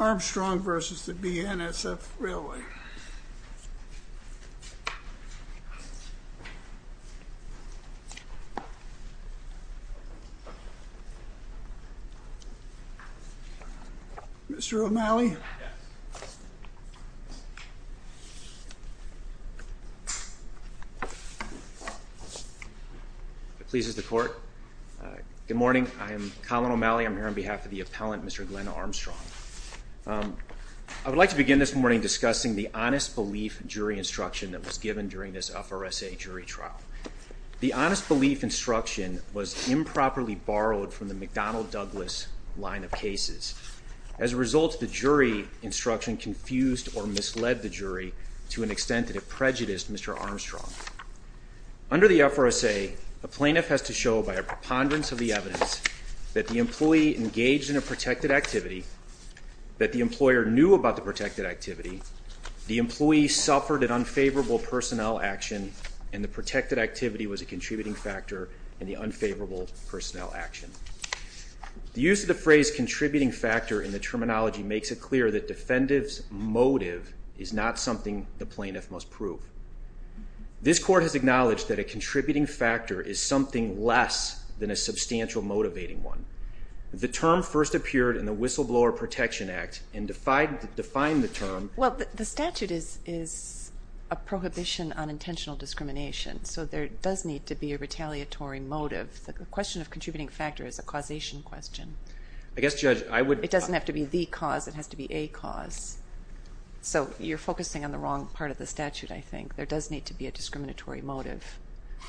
Armstrong v. BNSF Railway Good morning. I am Colin O'Malley. I'm here on behalf of the appellant, Mr. Glenn Armstrong. I would like to begin this morning discussing the honest belief jury instruction that was given during this FRSA jury trial. The honest belief instruction was improperly borrowed from the McDonnell Douglas line of cases. As a result, the jury instruction confused or misled the jury to an extent that it prejudiced Mr. Armstrong. Under the FRSA, a plaintiff has to show by a preponderance of the evidence that the employee engaged in a protected activity, that the employer knew about the protected activity, the employee suffered an unfavorable personnel action, and the protected activity was a contributing factor in the unfavorable personnel action. The use of the phrase contributing factor in the terminology makes it clear that defendants' motive is not something the plaintiff must prove. This Court has acknowledged that a contributing factor is something less than a substantial motivating one. The term first appeared in the Whistleblower Protection Act and defined the term... Well, the statute is a prohibition on intentional discrimination, so there does need to be a retaliatory motive. The question of contributing factor is a causation question. I guess, Judge, I would... There does need to be a discriminatory motive.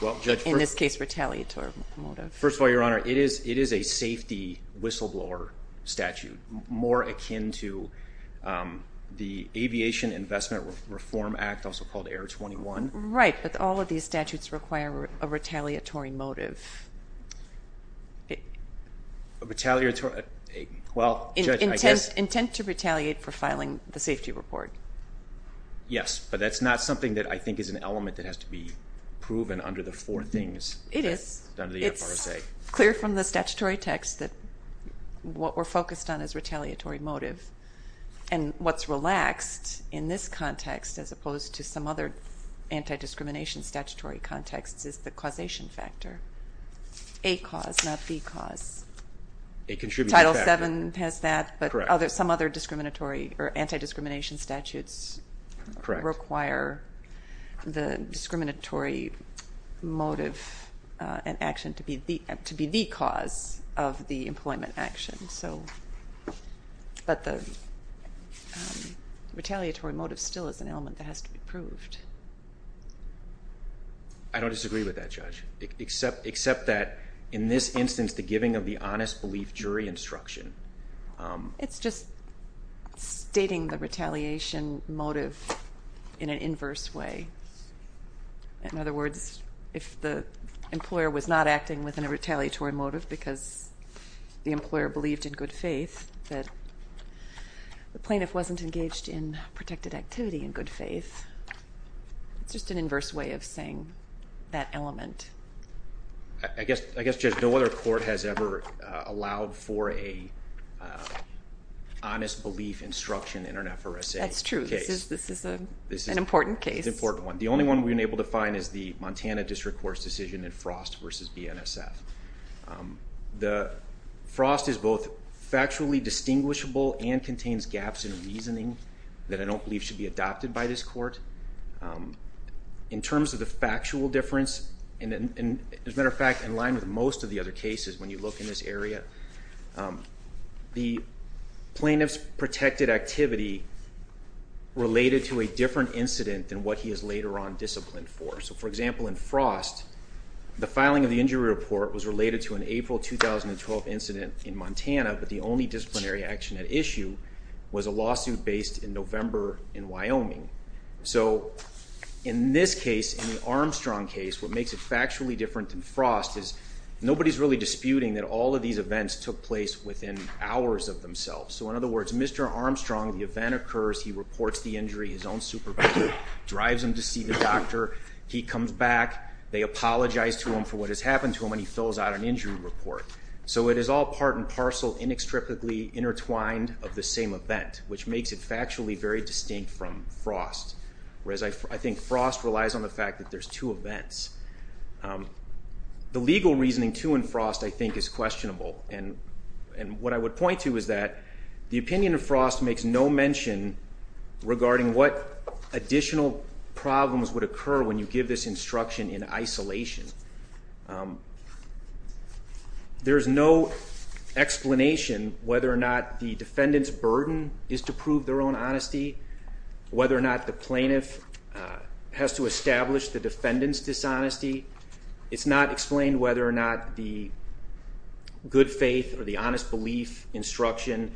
Well, Judge... In this case, retaliatory motive. First of all, Your Honor, it is a safety whistleblower statute, more akin to the Aviation Investment Reform Act, also called Air 21. Right, but all of these statutes require a retaliatory motive. A retaliatory... Well, Judge, I guess... Intent to retaliate for filing the safety report. Yes, but that's not something that I think is an element that has to be proven under the four things. It is. Under the FRSA. It's clear from the statutory text that what we're focused on is retaliatory motive. And what's relaxed in this context, as opposed to some other anti-discrimination statutory contexts, is the causation factor. A cause, not B cause. A contributing factor. But some other discriminatory or anti-discrimination statutes require the discriminatory motive and action to be the cause of the employment action. But the retaliatory motive still is an element that has to be proved. I don't disagree with that, Judge. Except that, in this instance, the giving of the honest belief jury instruction... It's just stating the retaliation motive in an inverse way. In other words, if the employer was not acting within a retaliatory motive because the employer believed in good faith, that the plaintiff wasn't engaged in protected activity in good faith, it's just an inverse way of saying that element. I guess, Judge, no other court has ever allowed for an honest belief instruction in an FRSA case. That's true. This is an important case. It's an important one. The only one we've been able to find is the Montana District Court's decision in Frost v. BNSF. Frost is both factually distinguishable and contains gaps in reasoning that I don't believe should be adopted by this court. In terms of the factual difference, as a matter of fact, in line with most of the other cases when you look in this area, the plaintiff's protected activity related to a different incident than what he is later on disciplined for. For example, in Frost, the filing of the injury report was related to an April 2012 incident in Montana, but the only disciplinary action at issue was a lawsuit based in November in Wyoming. In this case, in the Armstrong case, what makes it factually different than Frost is nobody is really disputing that all of these events took place within hours of themselves. In other words, Mr. Armstrong, the event occurs, he reports the injury, his own supervisor drives him to see the doctor. He comes back. They apologize to him for what has happened to him, and he fills out an injury report. So it is all part and parcel, inextricably intertwined of the same event, which makes it factually very distinct from Frost, whereas I think Frost relies on the fact that there's two events. The legal reasoning, too, in Frost, I think, is questionable. And what I would point to is that the opinion of Frost makes no mention regarding what additional problems would occur when you give this instruction in isolation. There's no explanation whether or not the defendant's burden is to prove their own honesty, whether or not the plaintiff has to establish the defendant's dishonesty. It's not explained whether or not the good faith or the honest belief instruction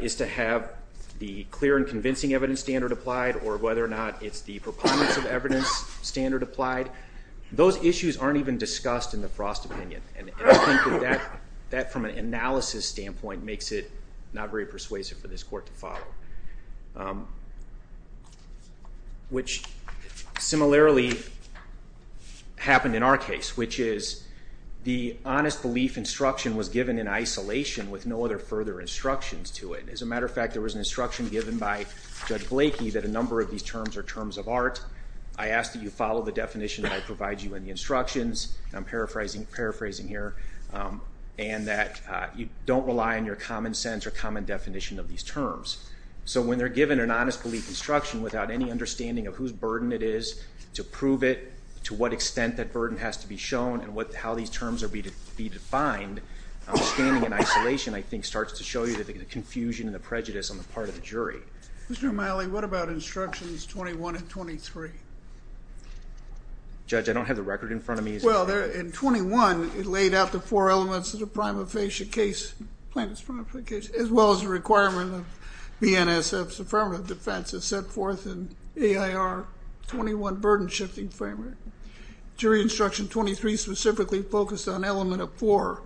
is to have the clear and convincing evidence standard applied or whether or not it's the preponderance of evidence standard applied. Those issues aren't even discussed in the Frost opinion. And I think that that, from an analysis standpoint, makes it not very persuasive for this court to follow, which similarly happened in our case, which is the honest belief instruction was given in isolation with no other further instructions to it. As a matter of fact, there was an instruction given by Judge Blakey that a number of these terms are terms of art. I ask that you follow the definition that I provide you in the instructions. I'm paraphrasing here. And that you don't rely on your common sense or common definition of these terms. So when they're given an honest belief instruction without any understanding of whose burden it is to prove it, to what extent that burden has to be shown, and how these terms are to be defined, standing in isolation, I think, starts to show you the confusion and the prejudice on the part of the jury. Mr. O'Malley, what about instructions 21 and 23? Judge, I don't have the record in front of me. Well, in 21, it laid out the four elements of the prima facie case, plaintiff's prima facie case, as well as the requirement of BNSF's affirmative defense as set forth in AIR 21 burden shifting framework. Jury instruction 23 specifically focused on element of four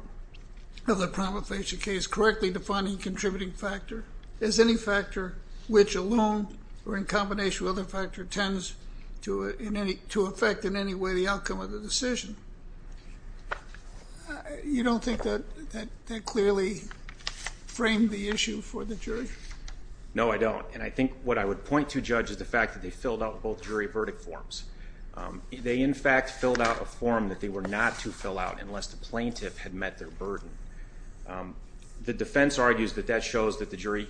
of the prima facie case, contributing factor. Is any factor which alone or in combination with other factor tends to affect in any way the outcome of the decision? You don't think that clearly framed the issue for the jury? No, I don't. And I think what I would point to, Judge, is the fact that they filled out both jury verdict forms. They, in fact, filled out a form that they were not to fill out unless the plaintiff had met their burden. The defense argues that that shows that the jury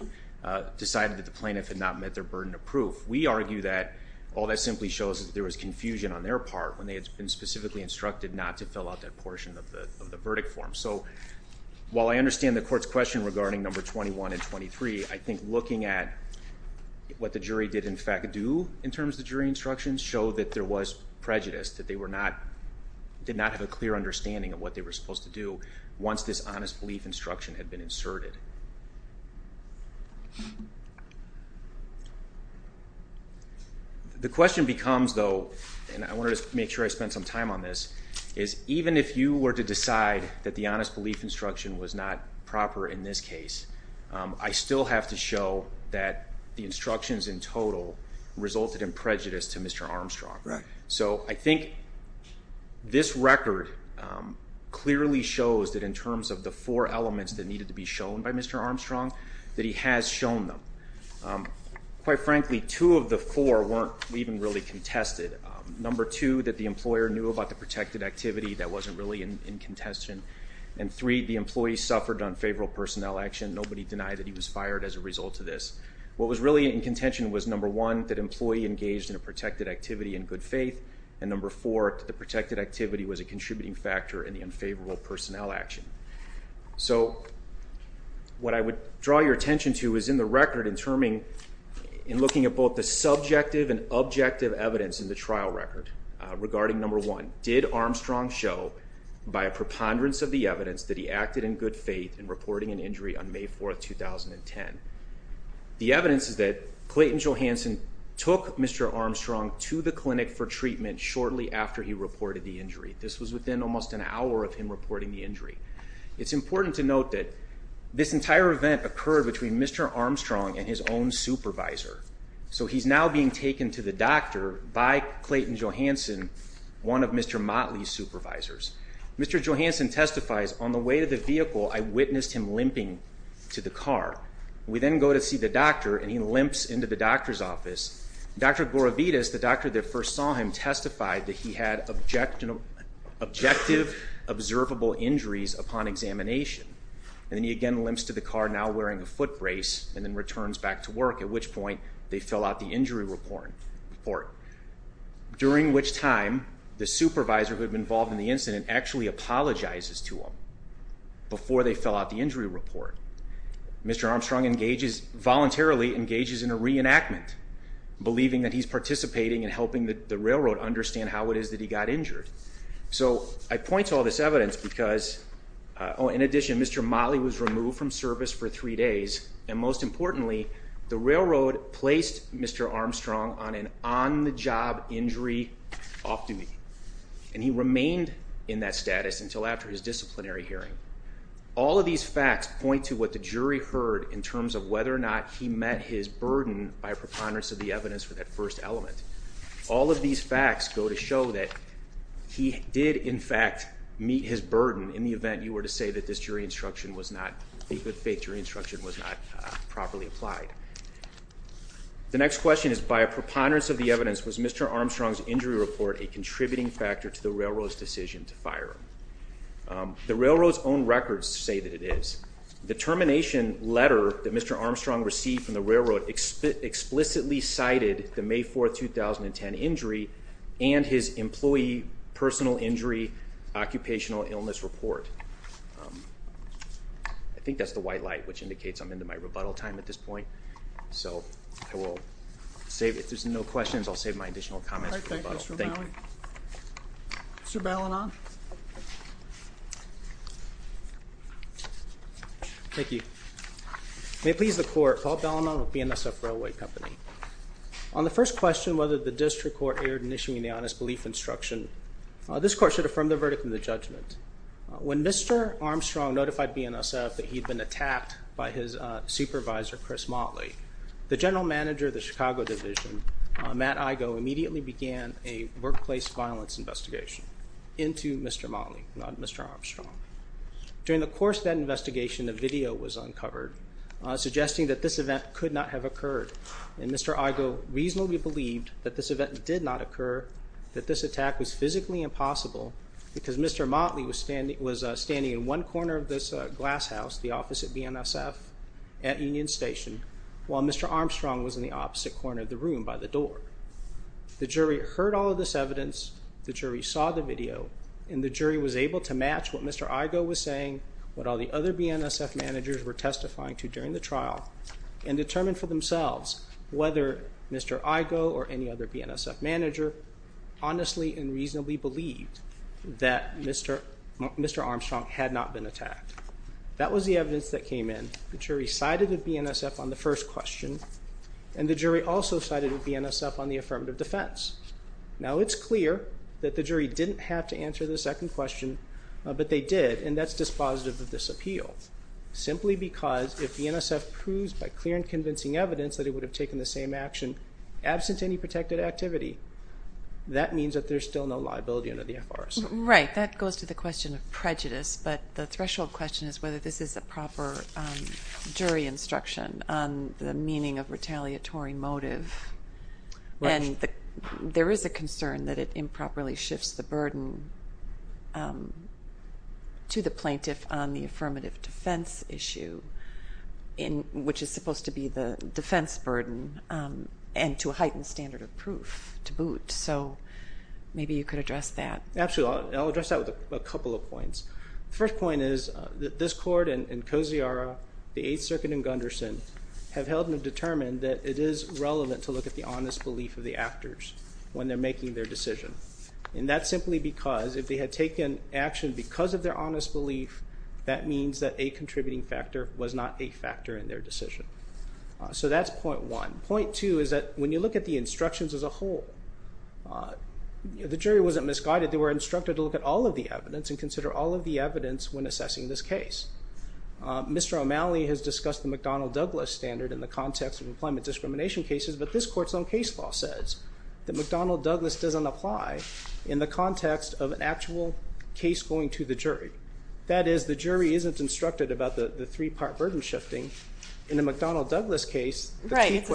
decided that the plaintiff had not met their burden of proof. We argue that all that simply shows that there was confusion on their part when they had been specifically instructed not to fill out that portion of the verdict form. So while I understand the court's question regarding number 21 and 23, I think looking at what the jury did, in fact, do in terms of jury instructions, showed that there was prejudice, that they did not have a clear understanding of what they were supposed to do once this honest belief instruction had been inserted. The question becomes, though, and I want to make sure I spend some time on this, is even if you were to decide that the honest belief instruction was not proper in this case, I still have to show that the instructions in total resulted in prejudice to Mr. Armstrong. So I think this record clearly shows that in terms of the four elements that needed to be shown by Mr. Armstrong, that he has shown them. Quite frankly, two of the four weren't even really contested. Number two, that the employer knew about the protected activity. That wasn't really in contention. And three, the employee suffered unfavorable personnel action. Nobody denied that he was fired as a result of this. What was really in contention was, number one, that employee engaged in a protected activity in good faith, and number four, that the protected activity was a contributing factor in the unfavorable personnel action. So what I would draw your attention to is in the record, in looking at both the subjective and objective evidence in the trial record regarding number one, did Armstrong show by a preponderance of the evidence that he acted in good faith in reporting an injury on May 4, 2010? The evidence is that Clayton Johansson took Mr. Armstrong to the clinic for treatment shortly after he reported the injury. This was within almost an hour of him reporting the injury. It's important to note that this entire event occurred between Mr. Armstrong and his own supervisor. So he's now being taken to the doctor by Clayton Johansson, one of Mr. Motley's supervisors. Mr. Johansson testifies, on the way to the vehicle, I witnessed him limping to the car. We then go to see the doctor, and he limps into the doctor's office. Dr. Gloravides, the doctor that first saw him, testified that he had objective observable injuries upon examination. And then he again limps to the car, now wearing a foot brace, and then returns back to work, at which point they fill out the injury report. During which time, the supervisor who had been involved in the incident actually apologizes to him before they fill out the injury report. Mr. Armstrong voluntarily engages in a reenactment, believing that he's participating in helping the railroad understand how it is that he got injured. So I point to all this evidence because, in addition, Mr. Motley was removed from service for three days, and most importantly, the railroad placed Mr. Armstrong on an on-the-job injury off-duty. And he remained in that status until after his disciplinary hearing. All of these facts point to what the jury heard in terms of whether or not he met his burden by a preponderance of the evidence for that first element. All of these facts go to show that he did, in fact, meet his burden, in the event you were to say that this jury instruction was not, the good faith jury instruction was not properly applied. The next question is, by a preponderance of the evidence, was Mr. Armstrong's injury report a contributing factor to the railroad's decision to fire him? The railroad's own records say that it is. The termination letter that Mr. Armstrong received from the railroad explicitly cited the May 4, 2010 injury and his employee personal injury occupational illness report. I think that's the white light, which indicates I'm into my rebuttal time at this point. So I will save it. If there's no questions, I'll save my additional comments for rebuttal. All right, thank you, Mr. Motley. Thank you. Mr. Ballinon? Thank you. May it please the court, Paul Ballinon with BNSF Railway Company. On the first question, whether the district court erred in issuing the honest belief instruction, this court should affirm the verdict in the judgment. When Mr. Armstrong notified BNSF that he had been attacked by his supervisor, Chris Motley, the general manager of the Chicago division, Matt Igoe, immediately began a workplace violence investigation into Mr. Motley, not Mr. Armstrong. During the course of that investigation, a video was uncovered suggesting that this event could not have occurred, and Mr. Igoe reasonably believed that this event did not occur, that this attack was physically impossible, because Mr. Motley was standing in one corner of this glass house, the office at BNSF at Union Station, while Mr. Armstrong was in the opposite corner of the room by the door. The jury heard all of this evidence, the jury saw the video, and the jury was able to match what Mr. Igoe was saying, what all the other BNSF managers were testifying to during the trial, and determine for themselves whether Mr. Igoe or any other BNSF manager honestly and reasonably believed that Mr. Armstrong had not been attacked. That was the evidence that came in. The jury cited BNSF on the first question, and the jury also cited BNSF on the affirmative defense. Now it's clear that the jury didn't have to answer the second question, but they did, and that's dispositive of this appeal, simply because if BNSF proves by clear and convincing evidence that it would have taken the same action absent any protected activity, that means that there's still no liability under the FRS. Right, that goes to the question of prejudice, but the threshold question is whether this is a proper jury instruction on the meaning of retaliatory motive, and there is a concern that it improperly shifts the burden to the plaintiff on the affirmative defense issue, which is supposed to be the defense burden, and to a heightened standard of proof to boot, so maybe you could address that. Absolutely, and I'll address that with a couple of points. The first point is that this court and Kosiara, the Eighth Circuit, and Gunderson have held and determined that it is relevant to look at the honest belief of the actors when they're making their decision, and that's simply because if they had taken action because of their honest belief, that means that a contributing factor was not a factor in their decision. So that's point one. Point two is that when you look at the instructions as a whole, the jury wasn't misguided. They were instructed to look at all of the evidence and consider all of the evidence when assessing this case. Mr. O'Malley has discussed the McDonnell-Douglas standard in the context of employment discrimination cases, but this court's own case law says that McDonnell-Douglas doesn't apply in the context of an actual case going to the jury. That is, the jury isn't instructed about the three-part burden shifting. In the McDonnell-Douglas case, the key question is... But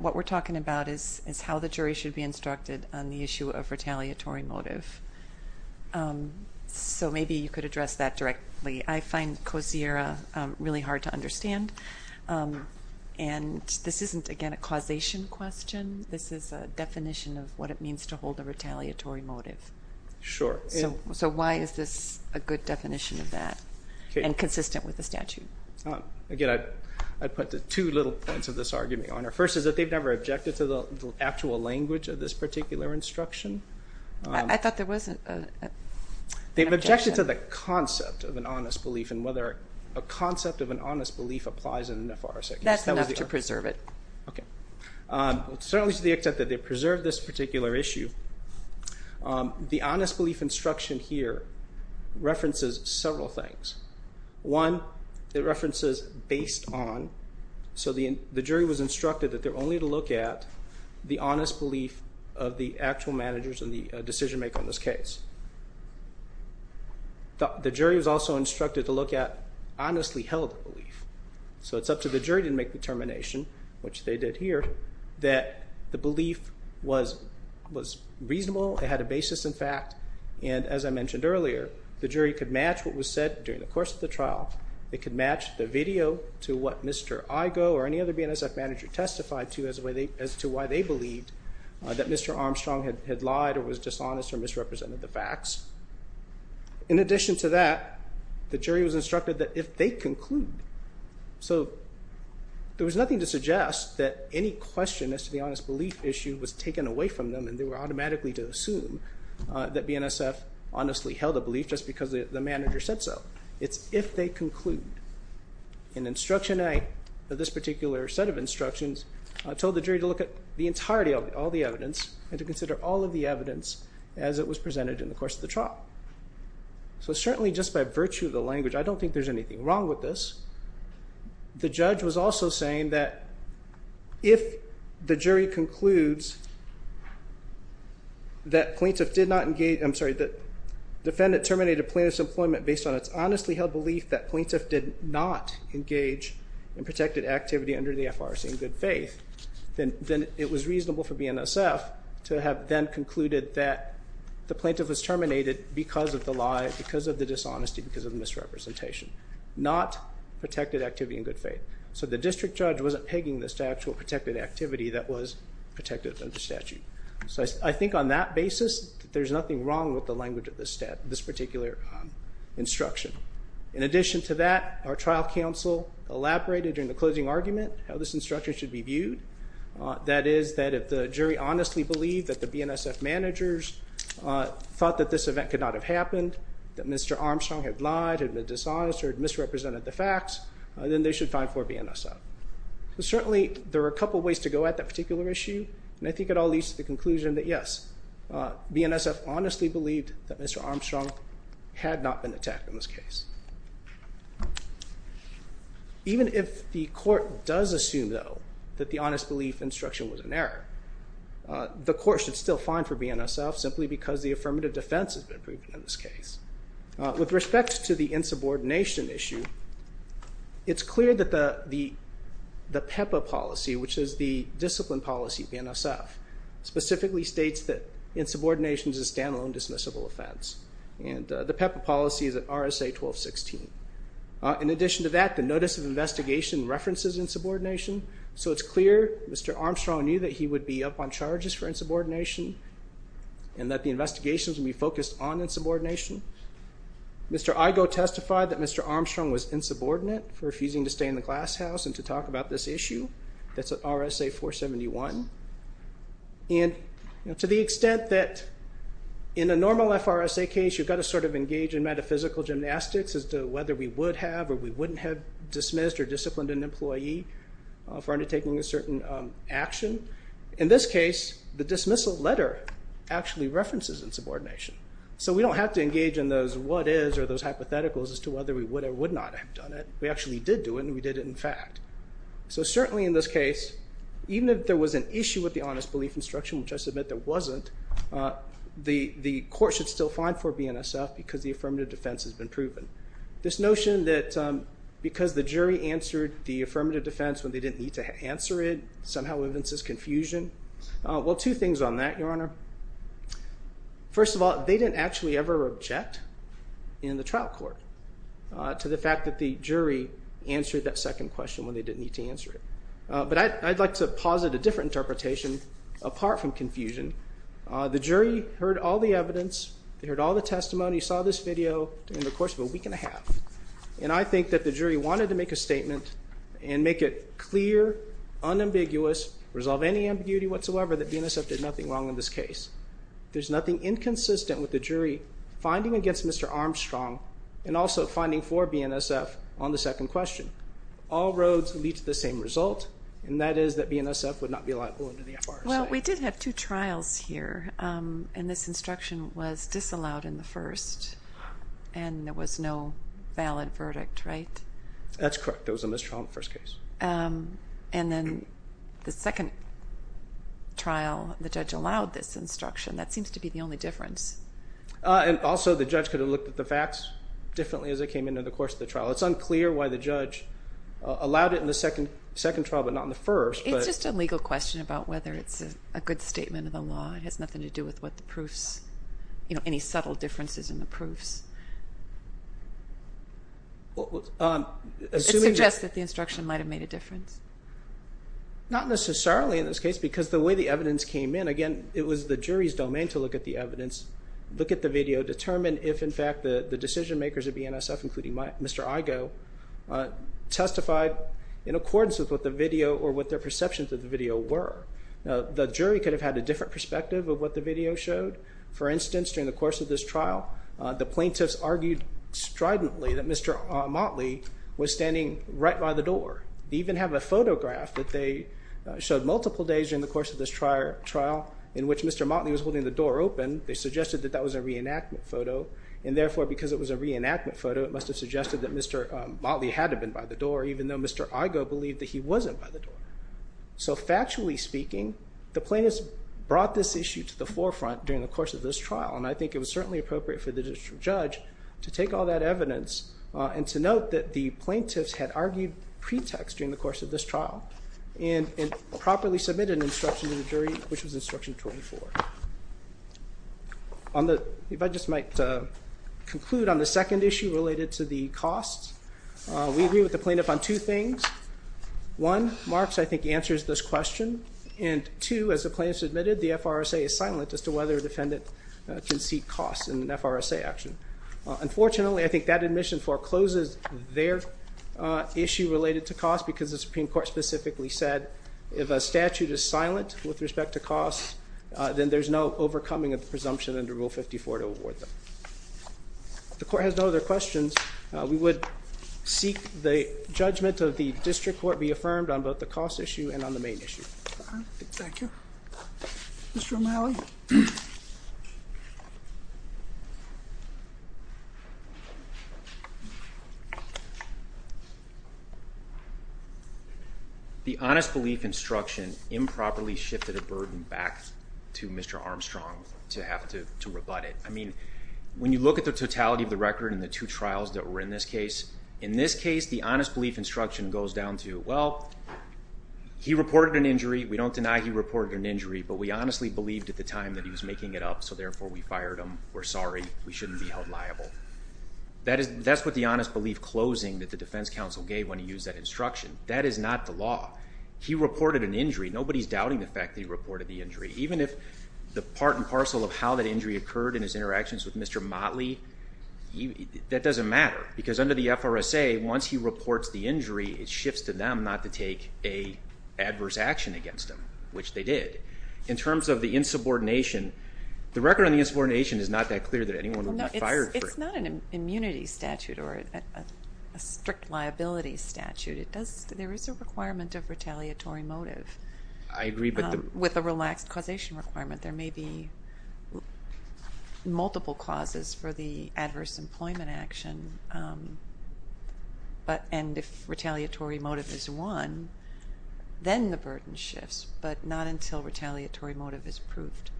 what we're talking about is how the jury should be instructed on the issue of retaliatory motive. So maybe you could address that directly. I find Kosiara really hard to understand, and this isn't, again, a causation question. This is a definition of what it means to hold a retaliatory motive. Sure. So why is this a good definition of that and consistent with the statute? Again, I'd put the two little points of this argument on there. First is that they've never objected to the actual language of this particular instruction. I thought there was an objection. They've objected to the concept of an honest belief and whether a concept of an honest belief applies in an FRC. That's enough to preserve it. Okay. Certainly to the extent that they preserve this particular issue, the honest belief instruction here references several things. One, it references based on. So the jury was instructed that they're only to look at the honest belief of the actual managers and the decision-maker in this case. The jury was also instructed to look at honestly held belief. So it's up to the jury to make determination, which they did here, that the belief was reasonable, it had a basis in fact, and as I mentioned earlier, the jury could match what was said during the course of the trial. It could match the video to what Mr. Igoe or any other BNSF manager testified to as to why they believed that Mr. Armstrong had lied or was dishonest or misrepresented the facts. In addition to that, the jury was instructed that if they conclude. So there was nothing to suggest that any question as to the honest belief issue was taken away from them and they were automatically to assume that BNSF honestly held a belief just because the manager said so. It's if they conclude. In instruction eight, this particular set of instructions told the jury to look at the entirety of all the evidence and to consider all of the evidence as it was presented in the course of the trial. So certainly just by virtue of the language, I don't think there's anything wrong with this. The judge was also saying that if the jury concludes that plaintiff did not engage, I'm sorry, that defendant terminated plaintiff's employment based on its honestly held belief that plaintiff did not engage in protected activity under the FRC in good faith, then it was reasonable for BNSF to have then concluded that the plaintiff was terminated because of the lie, because of the dishonesty, because of misrepresentation, not protected activity in good faith. So the district judge wasn't pegging this to actual protected activity that was protected under statute. So I think on that basis, there's nothing wrong with the language of this particular instruction. In addition to that, our trial counsel elaborated in the closing argument how this instruction should be viewed. That is that if the jury honestly believed that the BNSF managers thought that this event could not have happened, that Mr. Armstrong had lied, had been dishonest, or had misrepresented the facts, then they should fine for BNSF. So certainly there are a couple of ways to go at that particular issue, and I think it all leads to the conclusion that yes, BNSF honestly believed that Mr. Armstrong had not been attacked in this case. Even if the court does assume, though, that the honest belief instruction was an error, the court should still fine for BNSF simply because the affirmative defense has been proven in this case. With respect to the insubordination issue, it's clear that the PEPA policy, which is the discipline policy of BNSF, specifically states that insubordination is a stand-alone dismissible offense. And the PEPA policy is at RSA 1216. In addition to that, the notice of investigation references insubordination, so it's clear Mr. Armstrong knew that he would be up on charges for insubordination and that the investigations would be focused on insubordination. Mr. Igoe testified that Mr. Armstrong was insubordinate for refusing to stay in the glasshouse and to talk about this issue. That's at RSA 471. And to the extent that in a normal FRSA case, you've got to sort of engage in metaphysical gymnastics as to whether we would have or we wouldn't have dismissed or disciplined an employee for undertaking a certain action. In this case, the dismissal letter actually references insubordination. So we don't have to engage in those what is or those hypotheticals as to whether we would or would not have done it. We actually did do it, and we did it in fact. So certainly in this case, even if there was an issue with the honest belief instruction, which I submit there wasn't, the court should still find for BNSF because the affirmative defense has been proven. This notion that because the jury answered the affirmative defense when they didn't need to answer it somehow evinces confusion. Well, two things on that, Your Honor. First of all, they didn't actually ever object in the trial court to the fact that the jury answered that second question when they didn't need to answer it. But I'd like to posit a different interpretation apart from confusion. The jury heard all the evidence. They heard all the testimony, saw this video in the course of a week and a half. And I think that the jury wanted to make a statement and make it clear, unambiguous, resolve any ambiguity whatsoever that BNSF did nothing wrong in this case. There's nothing inconsistent with the jury finding against Mr. Armstrong and also finding for BNSF on the second question. All roads lead to the same result, and that is that BNSF would not be liable under the FRSA. Well, we did have two trials here, and this instruction was disallowed in the first, and there was no valid verdict, right? That's correct. There was a mistrial in the first case. And then the second trial, the judge allowed this instruction. That seems to be the only difference. And also the judge could have looked at the facts differently as it came into the course of the trial. It's unclear why the judge allowed it in the second trial but not in the first. It's just a legal question about whether it's a good statement of the law. It has nothing to do with what the proofs, you know, any subtle differences in the proofs. It suggests that the instruction might have made a difference. Not necessarily in this case because the way the evidence came in, again, it was the jury's domain to look at the evidence, look at the video, determine if, in fact, the decision makers at BNSF, including Mr. Igoe, testified in accordance with what the video or what their perceptions of the video were. The jury could have had a different perspective of what the video showed. For instance, during the course of this trial, the plaintiffs argued stridently that Mr. Motley was standing right by the door. They even have a photograph that they showed multiple days during the course of this trial in which Mr. Motley was holding the door open. They suggested that that was a reenactment photo. And, therefore, because it was a reenactment photo, it must have suggested that Mr. Motley had to have been by the door Factually speaking, the plaintiffs brought this issue to the forefront during the course of this trial, and I think it was certainly appropriate for the district judge to take all that evidence and to note that the plaintiffs had argued pretext during the course of this trial and properly submitted an instruction to the jury, which was Instruction 24. If I just might conclude on the second issue related to the costs, we agree with the plaintiff on two things. One, Marks, I think, answers this question. And, two, as the plaintiff admitted, the FRSA is silent as to whether a defendant can seek costs in an FRSA action. Unfortunately, I think that admission forecloses their issue related to costs because the Supreme Court specifically said if a statute is silent with respect to costs, then there's no overcoming of the presumption under Rule 54 to award them. If the Court has no other questions, we would seek the judgment of the district court be affirmed on both the cost issue and on the main issue. Thank you. Mr. O'Malley? The honest belief instruction improperly shifted a burden back to Mr. Armstrong to have to rebut it. I mean, when you look at the totality of the record and the two trials that were in this case, in this case, the honest belief instruction goes down to, well, he reported an injury. We don't deny he reported an injury, but we honestly believed at the time that he was making it up, so therefore we fired him. We're sorry. We shouldn't be held liable. That's what the honest belief closing that the defense counsel gave when he used that instruction. That is not the law. He reported an injury. Nobody's doubting the fact that he reported the injury. Even if the part and parcel of how that injury occurred in his interactions with Mr. Motley, that doesn't matter because under the FRSA, once he reports the injury, it shifts to them not to take an adverse action against him, which they did. In terms of the insubordination, the record on the insubordination is not that clear that anyone would not fire for it. It's not an immunity statute or a strict liability statute. There is a requirement of retaliatory motive. I agree, but the with a relaxed causation requirement. There may be multiple causes for the adverse employment action, and if retaliatory motive is won, then the burden shifts, but not until retaliatory motive is proved.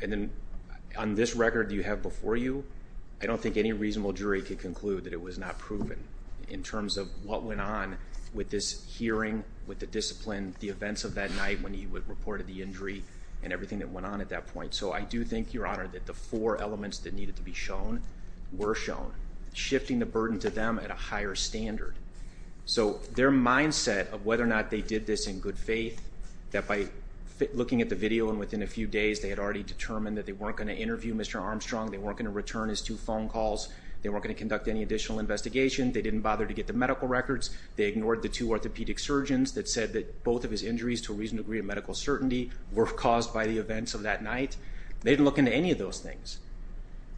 And then on this record you have before you, I don't think any reasonable jury could conclude that it was not proven in terms of what went on with this hearing, with the discipline, and the events of that night when he reported the injury, and everything that went on at that point. So I do think, Your Honor, that the four elements that needed to be shown were shown, shifting the burden to them at a higher standard. So their mindset of whether or not they did this in good faith, that by looking at the video and within a few days they had already determined that they weren't going to interview Mr. Armstrong, they weren't going to return his two phone calls, they weren't going to conduct any additional investigation, they didn't bother to get the medical records, they ignored the two orthopedic surgeons that said that both of his injuries to a reasonable degree of medical certainty were caused by the events of that night. They didn't look into any of those things.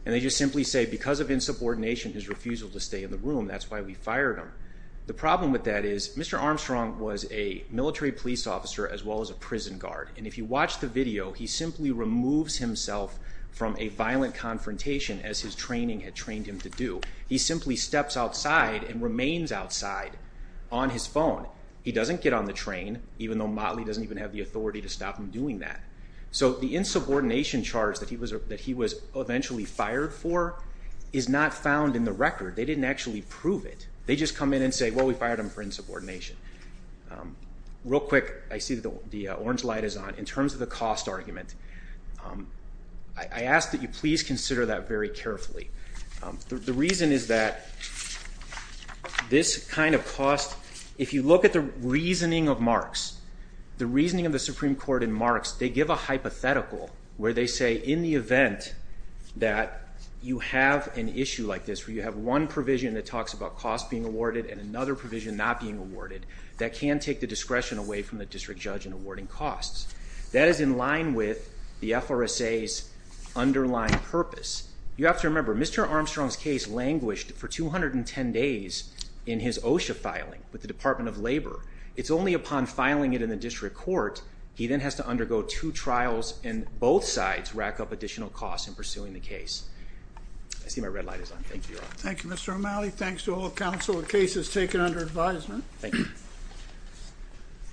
And they just simply say because of insubordination, his refusal to stay in the room, that's why we fired him. The problem with that is Mr. Armstrong was a military police officer as well as a prison guard, and if you watch the video, he simply removes himself from a violent confrontation as his training had trained him to do. He simply steps outside and remains outside on his phone. He doesn't get on the train, even though Motley doesn't even have the authority to stop him doing that. So the insubordination charge that he was eventually fired for is not found in the record. They didn't actually prove it. They just come in and say, well, we fired him for insubordination. Real quick, I see the orange light is on. In terms of the cost argument, I ask that you please consider that very carefully. The reason is that this kind of cost, if you look at the reasoning of Marks, the reasoning of the Supreme Court in Marks, they give a hypothetical where they say in the event that you have an issue like this where you have one provision that talks about costs being awarded and another provision not being awarded, that can take the discretion away from the district judge in awarding costs. That is in line with the FRSA's underlying purpose. You have to remember, Mr. Armstrong's case languished for 210 days in his OSHA filing with the Department of Labor. It's only upon filing it in the district court he then has to undergo two trials and both sides rack up additional costs in pursuing the case. I see my red light is on. Thank you, Your Honor. Thank you, Mr. O'Malley. Thanks to all counsel. The case is taken under advisement. Thank you.